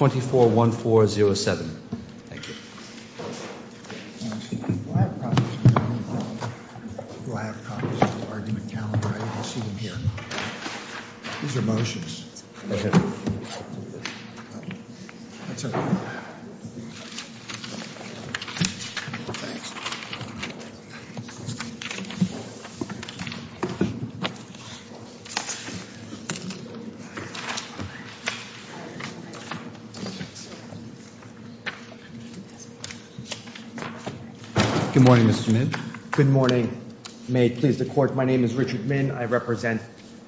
24-1407. Thank you. Good morning, Mr. Min. Good morning. May it please the Court, my name is Richard Min. I represent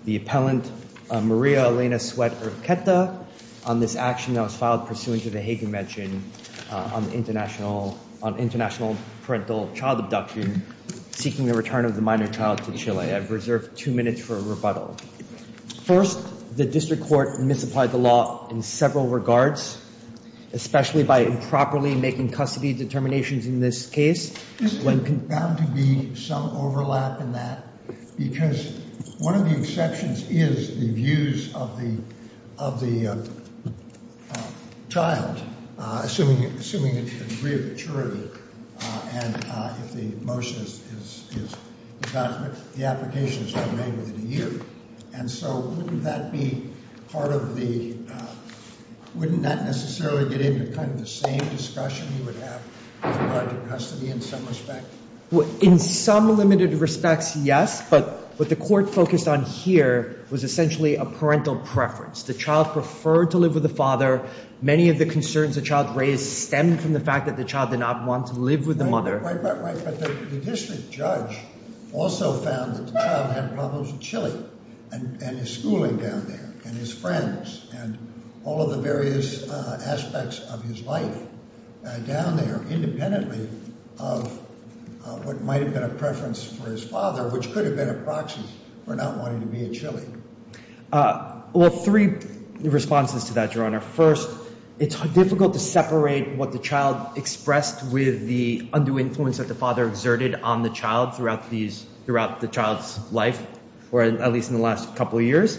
the appellant Maria Elena Sweat Urquieta on this action that was filed pursuant to the Hagan Mention on international parental child abduction seeking the return of the minor child to Chile. I've reserved two minutes for a rebuttal. First, the district court misapplied the law in several regards, especially by improperly making custody determinations in this case. There's bound to be some overlap in that because one of the exceptions is the views of the child, assuming a degree of maturity, and if the motion is adopted, the application is to be made within a year. And so wouldn't that be part of the, wouldn't that necessarily get into kind of the same discussion you would have with regard to custody in some respect? In some limited respects, yes, but what the court focused on here was essentially a parental preference. The child preferred to live with the father. Many of the concerns the child raised stemmed from the fact that the child did not want to live with the mother. Right, but the district judge also found that the child had problems in Chile and his schooling down there and his friends and all of the various aspects of his life down there independently of what might have been a preference for his father, which could have been a proxy for not wanting to be in Chile. Well, three responses to that, Your Honor. First, it's difficult to separate what the child expressed with the undue influence that the father exerted on the child throughout the child's life, or at least in the last couple of years.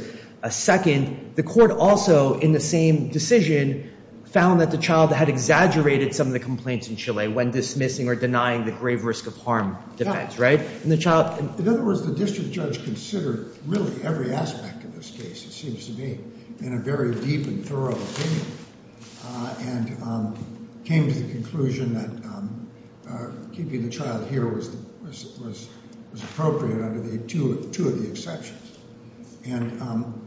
Second, the court also, in the same decision, found that the child had exaggerated some of the complaints in Chile when dismissing or denying the grave risk of harm defense, right? In other words, the district judge considered really every aspect of this case, it seems to me, in a very deep and thorough opinion and came to the conclusion that keeping the child here was appropriate under two of the exceptions. And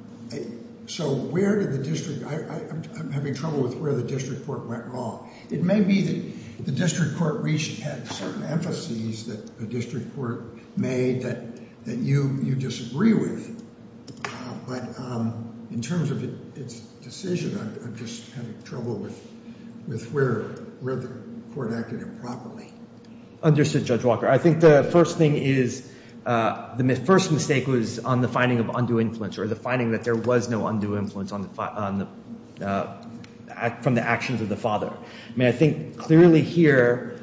so where did the district I'm having trouble with where the district court went wrong. It may be that the district court had certain emphases that the district court made that you disagree with, but in terms of its decision, I'm just having trouble with where the court acted improperly. Understood, Judge Walker. I think the first mistake was on the finding of undue influence or the finding that there was no undue influence from the actions of the father. I mean, I think clearly here,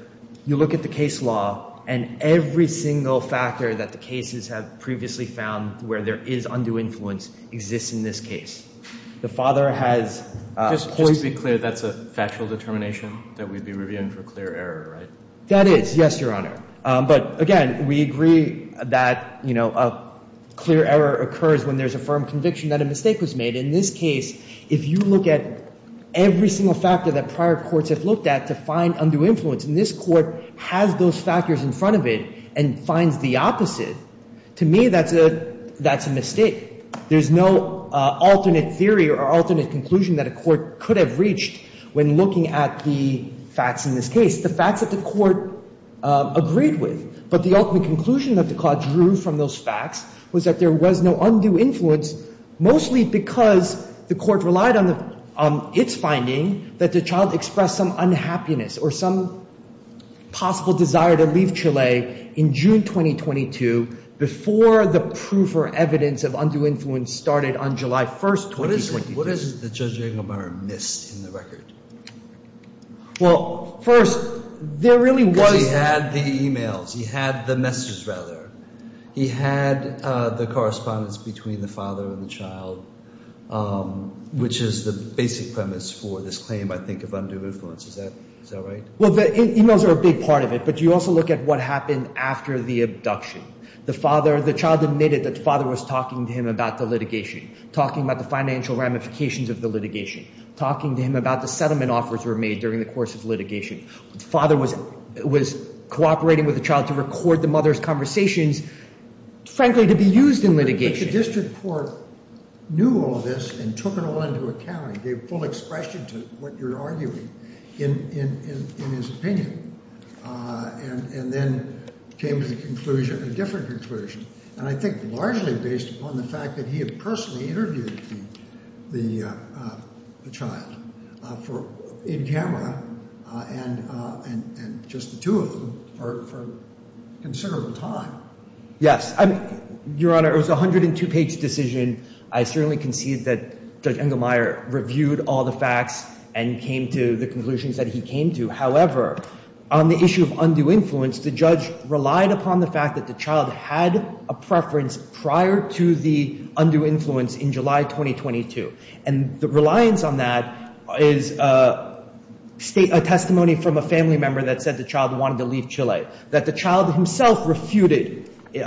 you look at the case law and every single factor that the cases have previously found where there is undue influence exists in this case. The father has Just to be clear, that's a factual determination that we'd be reviewing for clear error, right? That is, yes, Your Honor. But again, we agree that, you know, a clear error occurs when there's a firm conviction that a mistake was made. In this case, if you look at every single factor that prior courts have looked at to find undue influence, and this court has those factors in front of it and finds the opposite, to me, that's a mistake. There's no alternate theory or alternate conclusion that a court could have reached when looking at the facts in this case, the facts that the court agreed with. But the ultimate conclusion that the court drew from those facts was that there was no undue influence, mostly because the court relied on its finding that the child expressed some unhappiness or some possible desire to leave Chile in June 2022 before the proof or evidence of undue influence started on July 1st, 2022. What is it that Judge Engelmeyer missed in the record? Well, first, there really was... Because he had the e-mails. He had the message, rather. He had the correspondence between the father and the child, which is the basic premise for this claim, I think, of undue influence. Is that right? Well, the e-mails are a big part of it, but you also look at what happened after the hearing. The child admitted that the father was talking to him about the litigation, talking about the financial ramifications of the litigation, talking to him about the settlement offers were made during the course of litigation. The father was cooperating with the child to record the mother's conversations, frankly, to be used in litigation. But the district court knew all this and took it all into account and gave full expression to what you're arguing in his opinion and then came to the conclusion, a different conclusion, and I think largely based upon the fact that he had personally interviewed the child in camera and just the two of them for considerable time. Yes. Your Honor, it was a 102-page decision. I certainly concede that Judge Engelmeyer reviewed all the facts and came to the conclusions that he came to. However, on the issue of undue influence, the judge relied upon the fact that the child had a preference prior to the undue influence in July 2022. And the reliance on that is a testimony from a family member that said the child wanted to leave Chile, that the child himself refuted in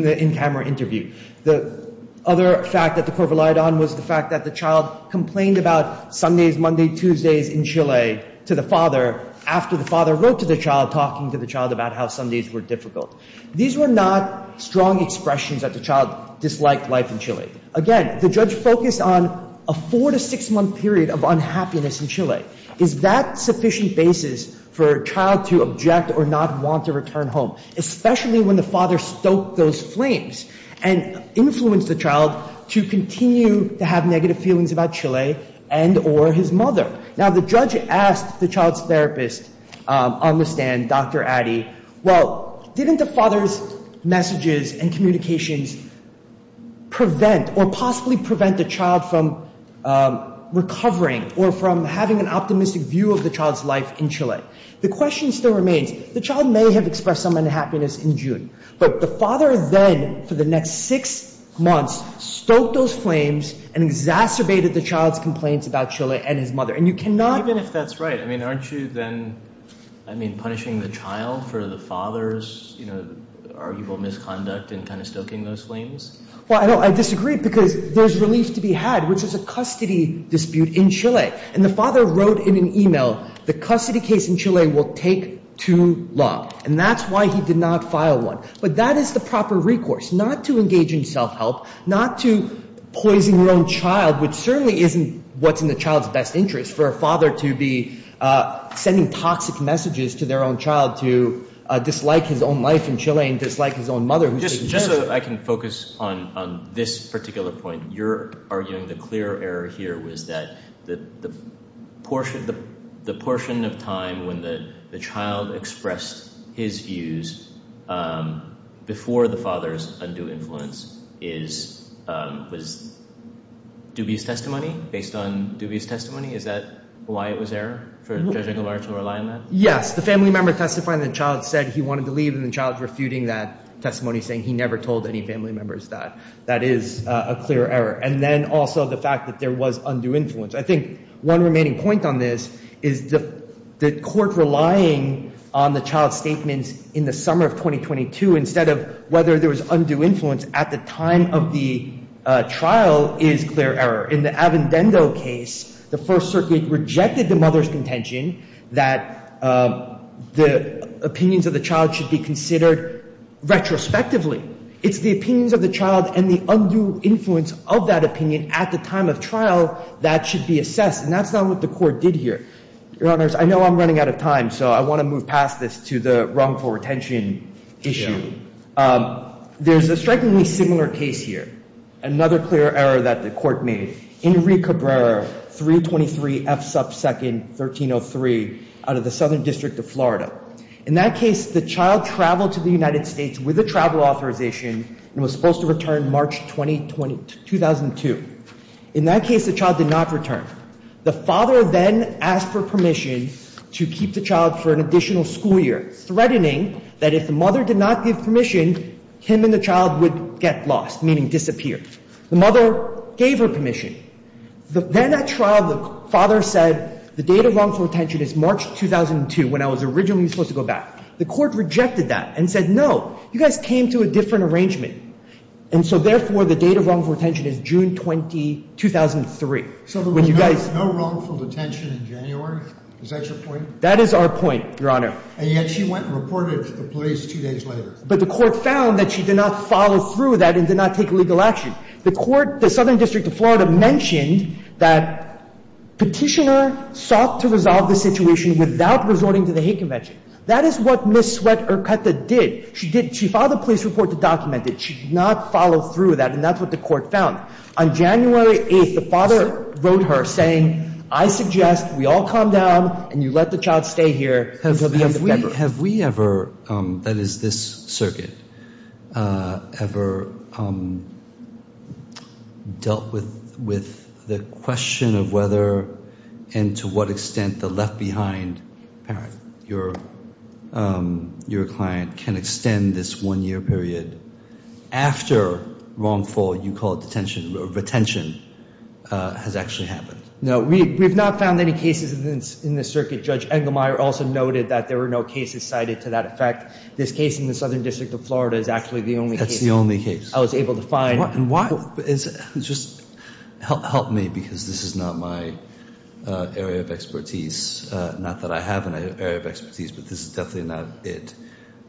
the in-camera interview. The other fact that the court relied on was the fact that the child complained about Sundays, Monday, Tuesdays in Chile to the father after the father wrote to the child talking to the child about how Sundays were difficult. These were not strong expressions that the child disliked life in Chile. Again, the judge focused on a four- to six-month period of unhappiness in Chile. Is that sufficient basis for a child to object or not want to return home, especially when the father stoked those flames and influenced the child to continue to have negative feelings about Chile and or his mother? Now, the judge asked the child's therapist on the stand, Dr. Addy, well, didn't the father's messages and communications prevent or possibly prevent the child from recovering or from having an optimistic view of the child's life in Chile? The question still remains. The child may have expressed some unhappiness in June, but the father then, for the next six months, stoked those flames and exacerbated the child's complaints about Chile and his mother. And you cannot... Even if that's right, I mean, aren't you then, I mean, punishing the child for the father's misconduct and kind of stoking those flames? Well, I disagree, because there's relief to be had, which is a custody dispute in Chile. And the father wrote in an email, the custody case in Chile will take too long. And that's why he did not file one. But that is the proper recourse, not to engage in self-help, not to poison your own child, which certainly isn't what's in the child's best interest, for a father to be in Chile and dislike his own mother. Just so I can focus on this particular point, you're arguing the clear error here was that the portion of time when the child expressed his views before the father's undue influence was dubious testimony, based on dubious testimony. Is that why it was error for Judge Engelbart to rely on that? Yes. The family member testifying the child said he wanted to leave and the child's refuting that testimony, saying he never told any family members that. That is a clear error. And then also the fact that there was undue influence. I think one remaining point on this is the court relying on the child's statements in the summer of 2022, instead of whether there was undue influence at the time of the trial is clear error. In the Avendendo case, the First Circuit rejected the mother's contention that the opinions of the child should be considered retrospectively. It's the opinions of the child and the undue influence of that opinion at the time of trial that should be assessed. And that's not what the Court did here. Your Honors, I know I'm running out of time, so I want to move on to the court's case this year. Another clear error that the Court made, Enrique Cabrera, 323 F. Sub. 2nd. 1303 out of the Southern District of Florida. In that case, the child traveled to the United States with a travel authorization and was supposed to return March 2002. In that case, the child did not return. The father then asked for permission to keep the child for an additional school year, threatening that if the mother did not give permission, him and the child would get lost, meaning disappear. The mother gave her permission. Then at trial, the father said the date of wrongful detention is March 2002, when I was originally supposed to go back. The Court rejected that and said, no, you guys came to a different arrangement. And so, therefore, the date of wrongful detention is June 20, 2003. So there was no wrongful detention in January? Is that your point? That is our point, Your Honor. And yet she went and reported it to the police two days later. But the Court found that she did not follow through with that and did not take legal action. The Southern District of Florida mentioned that Petitioner sought to resolve the situation without resorting to the hate convention. That is what Ms. Mehta did. She filed a police report to document it. She did not follow through with that. And that's what the Court found. On January 8, the father wrote her saying, I suggest we all calm down and you let the child stay here until the end of February. Have we ever, that is this circuit, ever dealt with the question of whether and to what extent the left-behind parent, your client, can extend this one-year period after wrongful, you call it detention, retention has actually happened? No. We have not found any cases in this circuit. Judge Engelmeyer also noted that there were no cases cited to that effect. This case in the Southern District of Florida is actually the only case I was able to find. And why? Just help me because this is not my area of expertise. Not that I have an area of expertise, but this is definitely not it.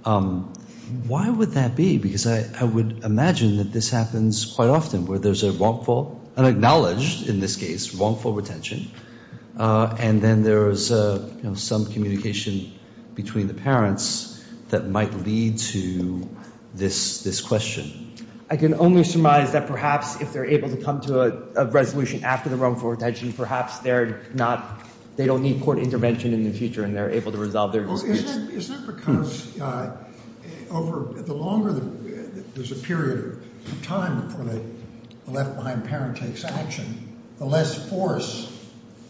Why would that be? Because I would imagine that this happens quite often where there is a wrongful, unacknowledged in this case, wrongful retention, and then there is some communication between the parents that might lead to this question. I can only surmise that perhaps if they are able to come to a resolution after the wrongful retention, perhaps they don't need court intervention in the future and they are able to resolve their disputes. Is that because the longer there is a period of time before the left-behind parent takes action, the less force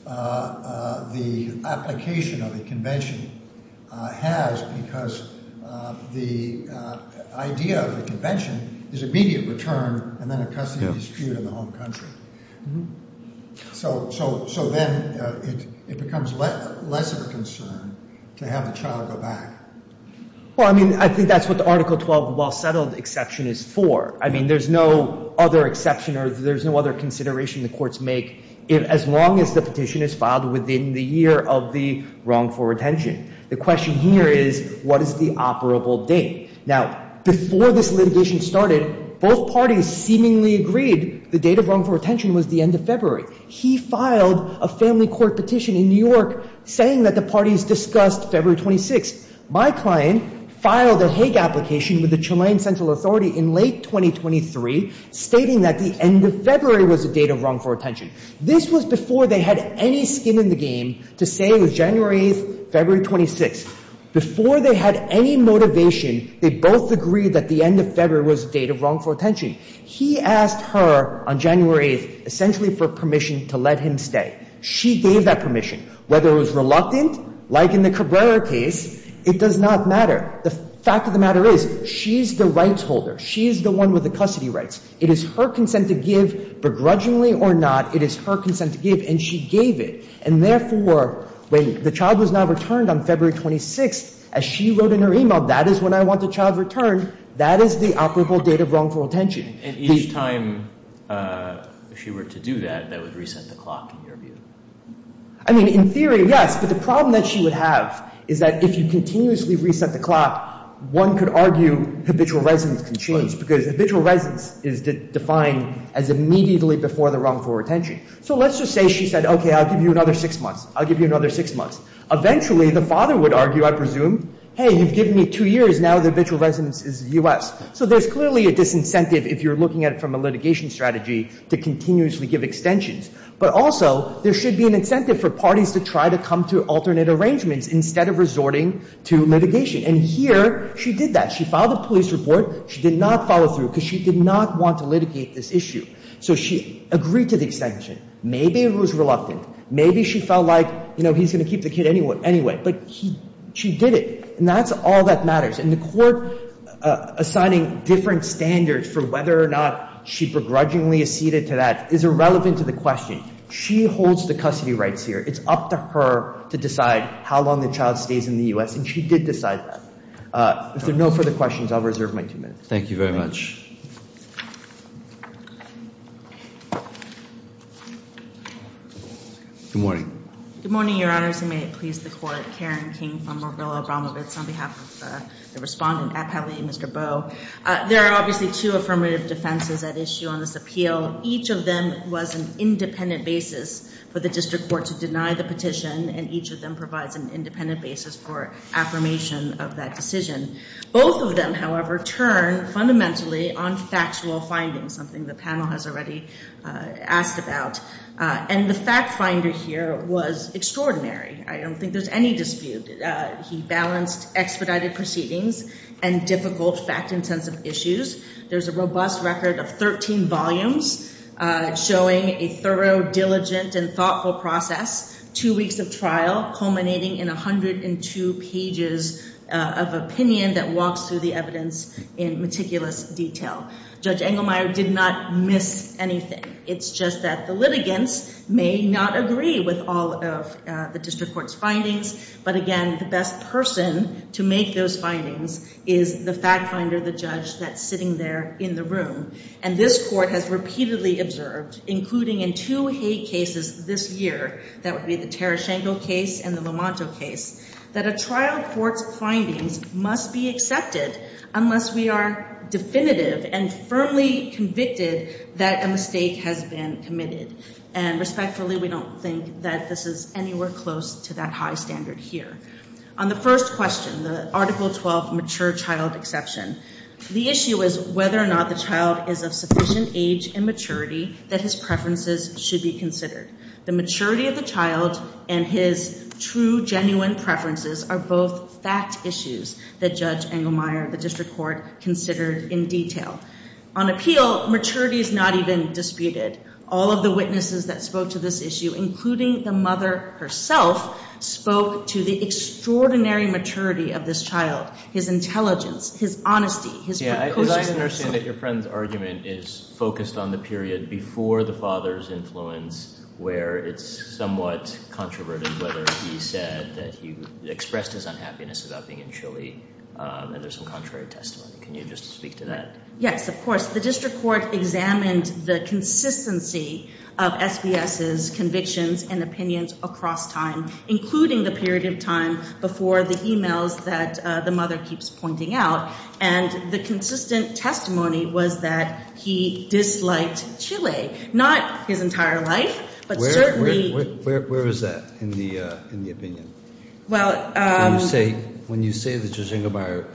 the application of the convention has because the idea of the convention is immediate return and then a custody dispute in the home country. So then it becomes less of a concern to have the child go back. Well, I mean, I think that's what the Article 12 well-settled exception is for. I mean, there's no other exception or there's no other consideration the courts make as long as the litigation is filed within the year of the wrongful retention. The question here is what is the operable date? Now, before this litigation started, both parties seemingly agreed the date of wrongful retention was the end of February. He filed a family court petition in New York saying that the parties discussed February 26th. My client filed a Hague application with the Chilean Central Authority in late 2023 stating that the end of February was the date of wrongful retention. This was before they had any skin in the game to say it was January 8th, February 26th. Before they had any motivation, they both agreed that the end of February was the date of wrongful retention. He asked her on January 8th essentially for permission to let him stay. She gave that permission. Whether it was reluctant, like in the Cabrera case, it does not matter. The fact of the matter is she's the rights holder. She's the one with the custody rights. It is her consent to give, begrudgingly or not, it is her consent to give, and she gave it. And therefore, when the child was not returned on February 26th, as she wrote in her e-mail, that is when I want the child returned, that is the operable date of wrongful retention. And each time she were to do that, that would reset the clock in your view? I mean, in theory, yes. But the problem that she would have is that if you continuously reset the clock, one could argue habitual residence can change because habitual residence is defined as immediately before the wrongful retention. So let's just say she said, okay, I'll give you another six months. I'll give you another six months. Eventually, the father would argue, I presume, hey, you've given me two years, now the habitual residence is U.S. So there's clearly a disincentive if you're looking at it from a litigation strategy to continuously give extensions. But also, there should be an incentive for parties to try to come to alternate arrangements instead of resorting to litigation. And here, she did that. She filed a police report. She did not follow through because she did not want to litigate this issue. So she agreed to the extension. Maybe it was reluctant. Maybe she felt like, you know, he's going to keep the kid anyway. But she did it. And that's all that matters. And the court assigning different standards for whether or not she begrudgingly acceded to that is irrelevant to the question. She holds the custody rights here. It's up to her to decide how long the child stays in the U.S. And she did decide that. If there are no further questions, I'll reserve my two minutes. Thank you very much. Good morning. Good morning, Your Honors, and may it please the Court. Karen King from Marilla Abramovitz on behalf of the Respondent, Appellee Mr. Bowe. There are obviously two affirmative defenses at issue on this appeal. Each of them was an independent basis for the district court to deny the petition, and each of them provides an independent basis for affirmation of that decision. Both of them, however, turn fundamentally on factual findings, something the panel has already asked about. And the fact finder here was extraordinary. I don't know if you can see it, but there's a robust record of 13 volumes showing a thorough, diligent and thoughtful process, two weeks of trial culminating in 102 pages of opinion that walks through the evidence in meticulous detail. Judge Engelmeyer did not miss anything. It's just that the litigants may not agree with all of the district court's findings. But again, the best person to make those findings is the fact finder, the judge that's sitting there in the room. And this court has repeatedly observed, including in two hate cases this year, that would be the Terraschenko case and the Lamonto case, that a trial court's findings must be accepted unless we are definitive and firmly convicted that a mistake has been committed. And respectfully, we don't think that this is anywhere close to that high standard here. On the first question, the Article 12 mature child exception, the issue is whether or not the child is of sufficient age and maturity that his preferences should be considered. The maturity of the child and his true, genuine preferences are both fact issues that Judge Engelmeyer, the district court, considered in detail. On appeal, maturity is not even disputed. All of the witnesses that spoke to this issue, including the mother herself, spoke to the extraordinary maturity of this child, his intelligence, his honesty, his proposals. As I understand it, your friend's argument is focused on the period before the father's influence where it's somewhat controverted, whether he said that he expressed his unhappiness about being in Chile and there's some contrary testimony. Can you just speak to that? Yes, of course. The district court examined the consistency of SBS's convictions and opinions across time, including the period of time before the e-mails that the mother keeps pointing out. And the consistent testimony was that he disliked Chile, not his entire life, but certainly... Where is that in the opinion? When you say that Judge Engelmeyer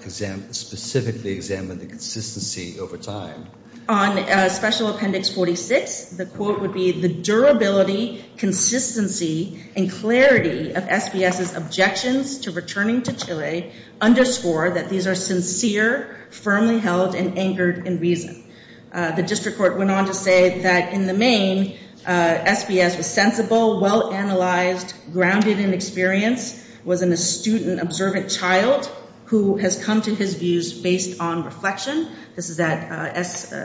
specifically examined the consistency over time... On Special Appendix 46, the quote "...the consistency and clarity of SBS's objections to returning to Chile underscore that these are sincere, firmly held and anchored in reason." The district court went on to say that in the main, SBS was sensible, well-analyzed, grounded in experience, was an astute and observant child who has come to his views based on reflection. This is at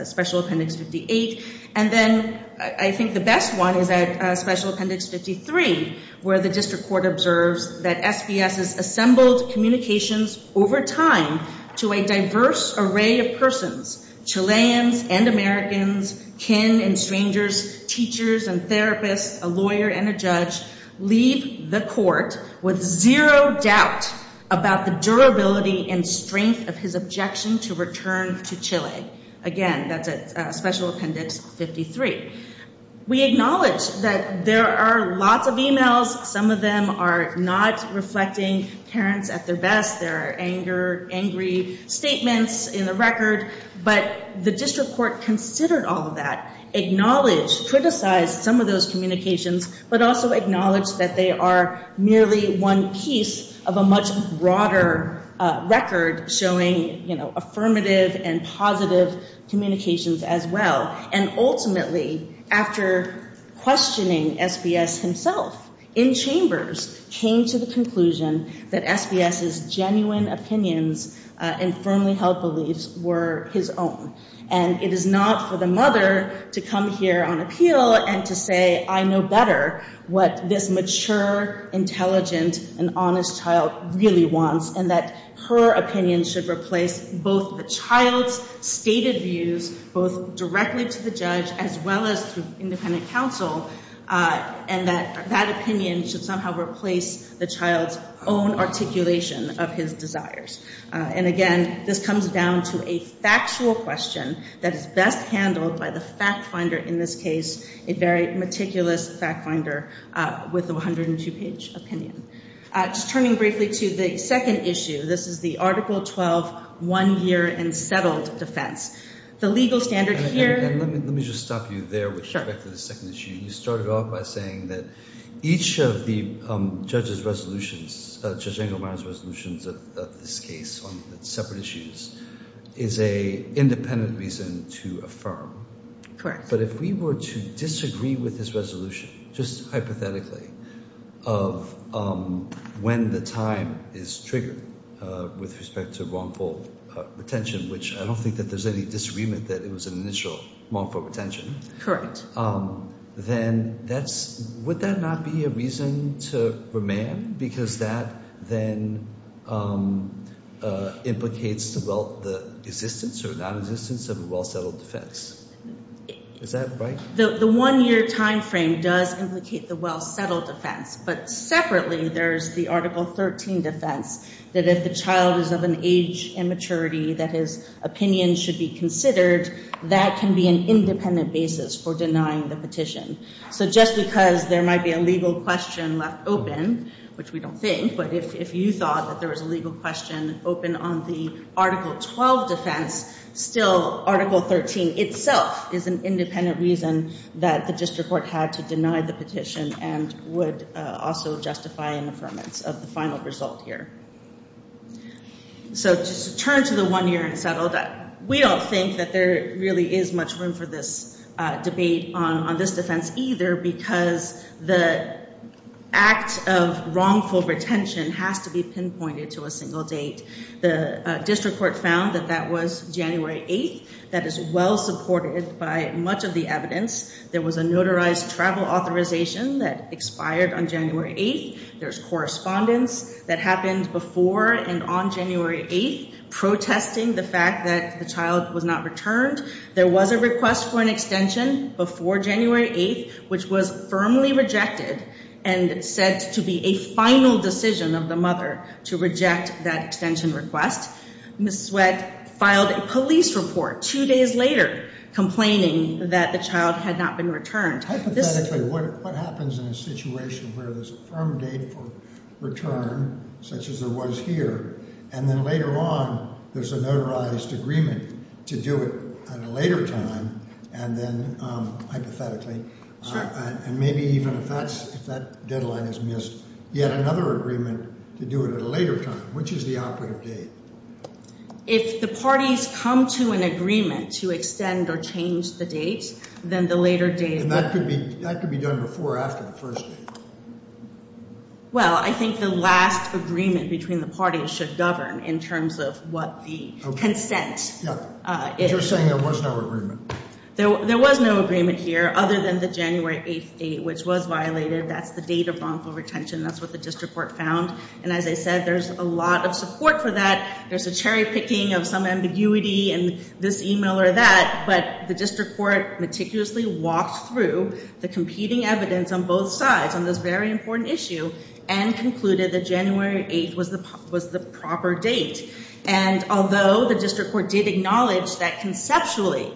Special Appendix 58. And then I think the best one is at Special Appendix 53, where the district court observes that SBS's assembled communications over time to a diverse array of persons, Chileans and Americans, kin and strangers, teachers and therapists, a lawyer and a judge, leave the court with zero doubt about the durability and strength of his objection to return to Chile. This is at Special Appendix 53. We acknowledge that there are lots of emails. Some of them are not reflecting parents at their best. There are angry statements in the record. But the district court considered all of that, acknowledged, criticized some of those communications, but also acknowledged that they are merely one piece of a much broader record showing, you know, affirmative and positive communications as well. And ultimately, after questioning SBS himself in chambers, came to the conclusion that SBS's genuine opinions and firmly held beliefs were his own. And it is not for the mother to come here on appeal and to say, I know better what this mature, intelligent and honest child really wants and that her opinion should replace both the child's stated views, both directly to the judge as well as through independent counsel, and that that opinion should somehow replace the child's own articulation of his desires. And, again, this comes down to a factual question that is best handled by the fact finder in this case, a very meticulous fact finder with a 102-page opinion. Just turning briefly to the second issue, this is the Article 12 one-year unsettled defense. The legal standard here... Let me just stop you there with respect to the second issue. You started off by saying that each of the judge's resolutions, Judge Engelmeyer's resolutions of this case on separate issues is an independent reason to affirm. But if we were to disagree with his resolution, just when the time is triggered with respect to wrongful retention, which I don't think that there's any disagreement that it was an initial wrongful retention, then would that not be a reason to remand because that then implicates the existence or non-existence of a well-settled defense? Is that right? The one-year time frame does implicate the well-settled defense, but separately there's the Article 13 defense that if the child is of an age immaturity that his opinion should be considered, that can be an independent basis for denying the petition. So just because there might be a legal question left open, which we don't think, but if you thought that there was a legal question open on the Article 12 defense, still Article 13 itself is an independent reason that the district court had to deny the petition and would also justify an affirmance of the final result here. So just turn to the one-year and settle that. We don't think that there really is much room for this debate on this defense either because the act of wrongful retention has to be pinpointed to a single date. The district court found that that was January 8th. That is well-supported by much of the evidence. There was a notarized travel authorization that expired on January 8th. There's correspondence that happened before and on January 8th protesting the fact that the child was not returned. There was a request for an extension before January 8th, which was firmly rejected and said to be a final decision of the mother to reject that extension request. Ms. Sweat filed a police report two days later complaining that the child had not been returned. Hypothetically, what happens in a situation where there's a firm date for return, such as there was here, and then later on there's a notarized agreement to do it at a later time, and then hypothetically, and maybe even if that deadline is missed, yet another agreement to do it at a later time. Which is the output of date? If the parties come to an agreement to extend or change the date, then the later date... And that could be done before or after the first date? Well, I think the last agreement between the parties should govern in terms of what the consent is. But you're saying there was no agreement? There was no agreement here other than the January 8th date, which was violated. That's the date of wrongful retention. That's what the district court found. And as I said, there's a lot of support for that. There's a cherry picking of some ambiguity in this email or that. But the district court meticulously walked through the competing evidence on both sides on this very important issue and concluded that January 8th was the proper date. And although the district court did acknowledge that conceptually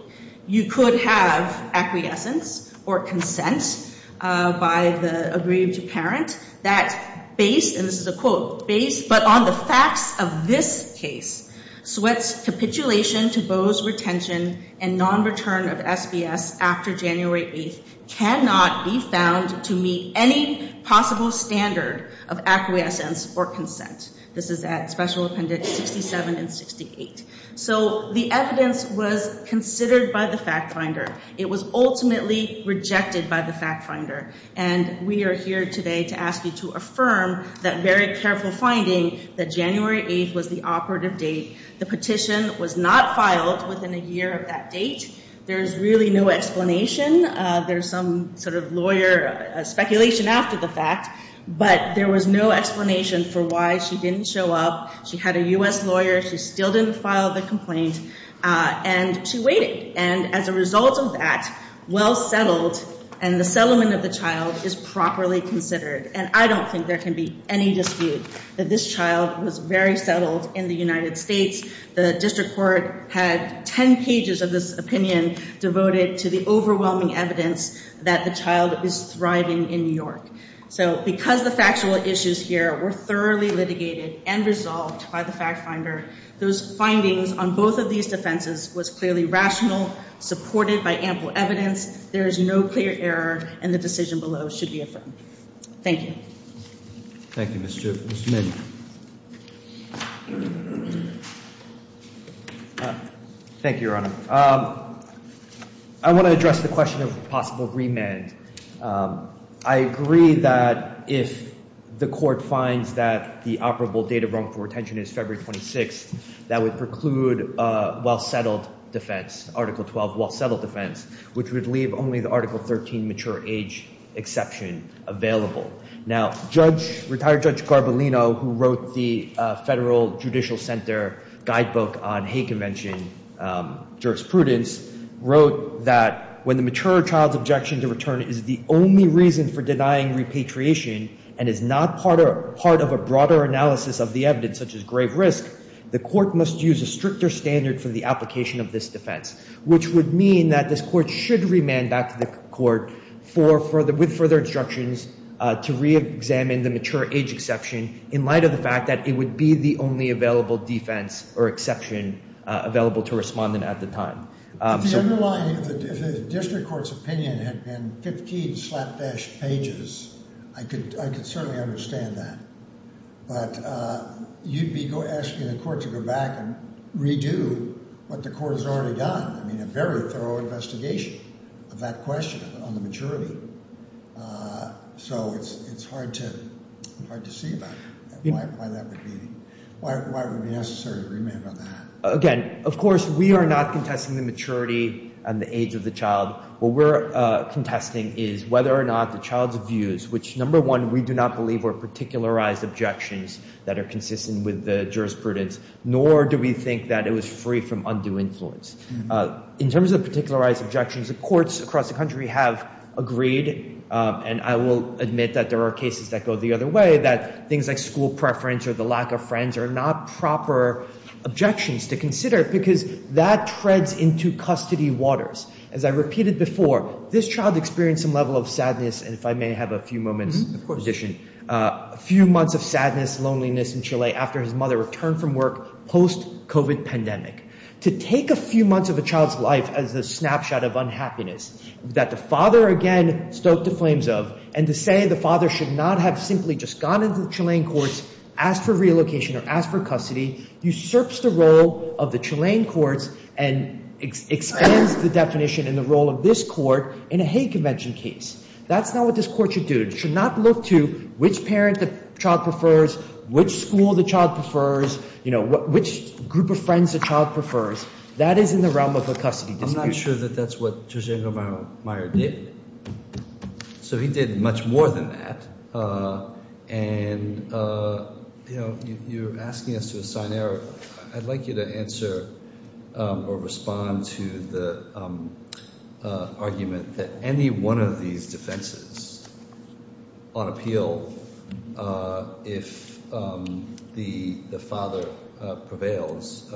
you could have acquiescence or consent by the agreed to parent, that based, and this is a quote, based, but on the facts of this case, Sweatt's capitulation to Bose Retention and non-return of SBS after January 8th cannot be found to meet any possible standard of acquiescence or consent. This is at Special Appendix 67 and 68. So the evidence was considered by the fact finder. It was ultimately rejected by the fact finder. And we are here today to ask you to affirm that very careful finding that January 8th was the operative date. The petition was not filed within a year of that date. There's really no explanation. There's some sort of lawyer speculation after the fact. But there was no explanation for why she didn't show up. She had a U.S. lawyer. She still didn't file the complaint. And she waited. And as a result of that, well settled and the settlement of the child is properly considered. And I don't think there can be any dispute that this child was very settled in the United States. The district court had 10 pages of this opinion devoted to the overwhelming evidence that the child is thriving in New York. So because the factual issues here were thoroughly litigated and resolved by the fact finder, those findings on both of these defenses was clearly rational, supported by ample evidence. There is no clear error and the decision below should be affirmed. Thank you. Thank you, Mr. Min. Thank you, Your Honor. I want to address the question of possible remand. I agree that if the court finds that the operable date of wrongful retention is February 26th, that would preclude a well settled defense, Article 12 well settled defense, which would leave only the Article 13 mature age exception available. Now, retired Judge Garbolino, who wrote the federal judicial center guidebook on hate convention jurisprudence, wrote that when the mature child's objection to return is the only reason for denying repatriation and is not part of a broader analysis of the evidence such as grave risk, the court must use a stricter standard for the application of this defense, which would mean that this court should remand back to the court with further instructions to reexamine the mature age exception in light of the fact that it would be the only available defense or exception available to respond in at the time. If the underlying district court's opinion had been 15 slapdash pages, I could certainly understand that. But you'd be asking the court to go back and redo what the court has already done. I mean, a very thorough investigation of that question on the maturity. So it's hard to see why that would be necessary to remand on that. Again, of course, we are not contesting the maturity and the age of the child. What we're contesting is whether or not the child's views, which number one, we do not believe were particularized objections that are consistent with the jurisprudence, nor do we think that it was free from undue influence. In terms of particularized objections, the courts across the country have agreed, and I will admit that there are cases that go the other way, that things like school preference or the lack of friends are not proper objections to consider because that treads into custody waters. As I repeated before, this child experienced some level of sadness, and if I may have a few moments in addition. A few months of sadness, loneliness in Chile after his mother returned from work post-COVID pandemic. To take a few months of a child's life as a snapshot of unhappiness that the father, again, stoked the flames of, and to say the father should not have simply just gone into the Chilean courts, asked for relocation or asked for custody, usurps the role of the Chilean courts and expands the definition and the role of this court in a hate convention case. That's not what this court should do. It should not look to which parent the child prefers, which school the child prefers, which group of friends the child prefers. That is in the realm of a custody dispute. I'm not sure that that's what Jorgen Romero Meyer did. So he did much more than that. And, you know, you're asking us to assign error. I'd like you to answer or respond to the argument that any one of these defenses on appeal, if the father prevails,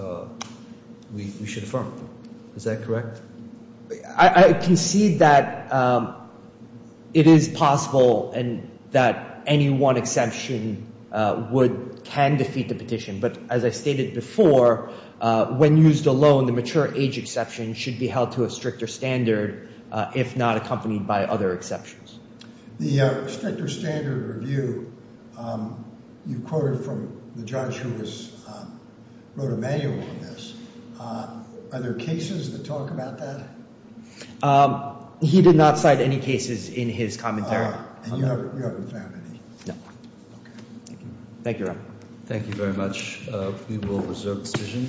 we should affirm. Is that correct? I concede that it is possible and that any one exception would can defeat the petition. But as I stated before, when used alone, the mature age exception should be held to a stricter standard if not accompanied by other exceptions. The stricter standard review you quoted from the judge who wrote a manual on this. Are there cases that talk about that? He did not cite any cases in his commentary. And you haven't found any? No. Okay. Thank you. Thank you very much. We will reserve the decision.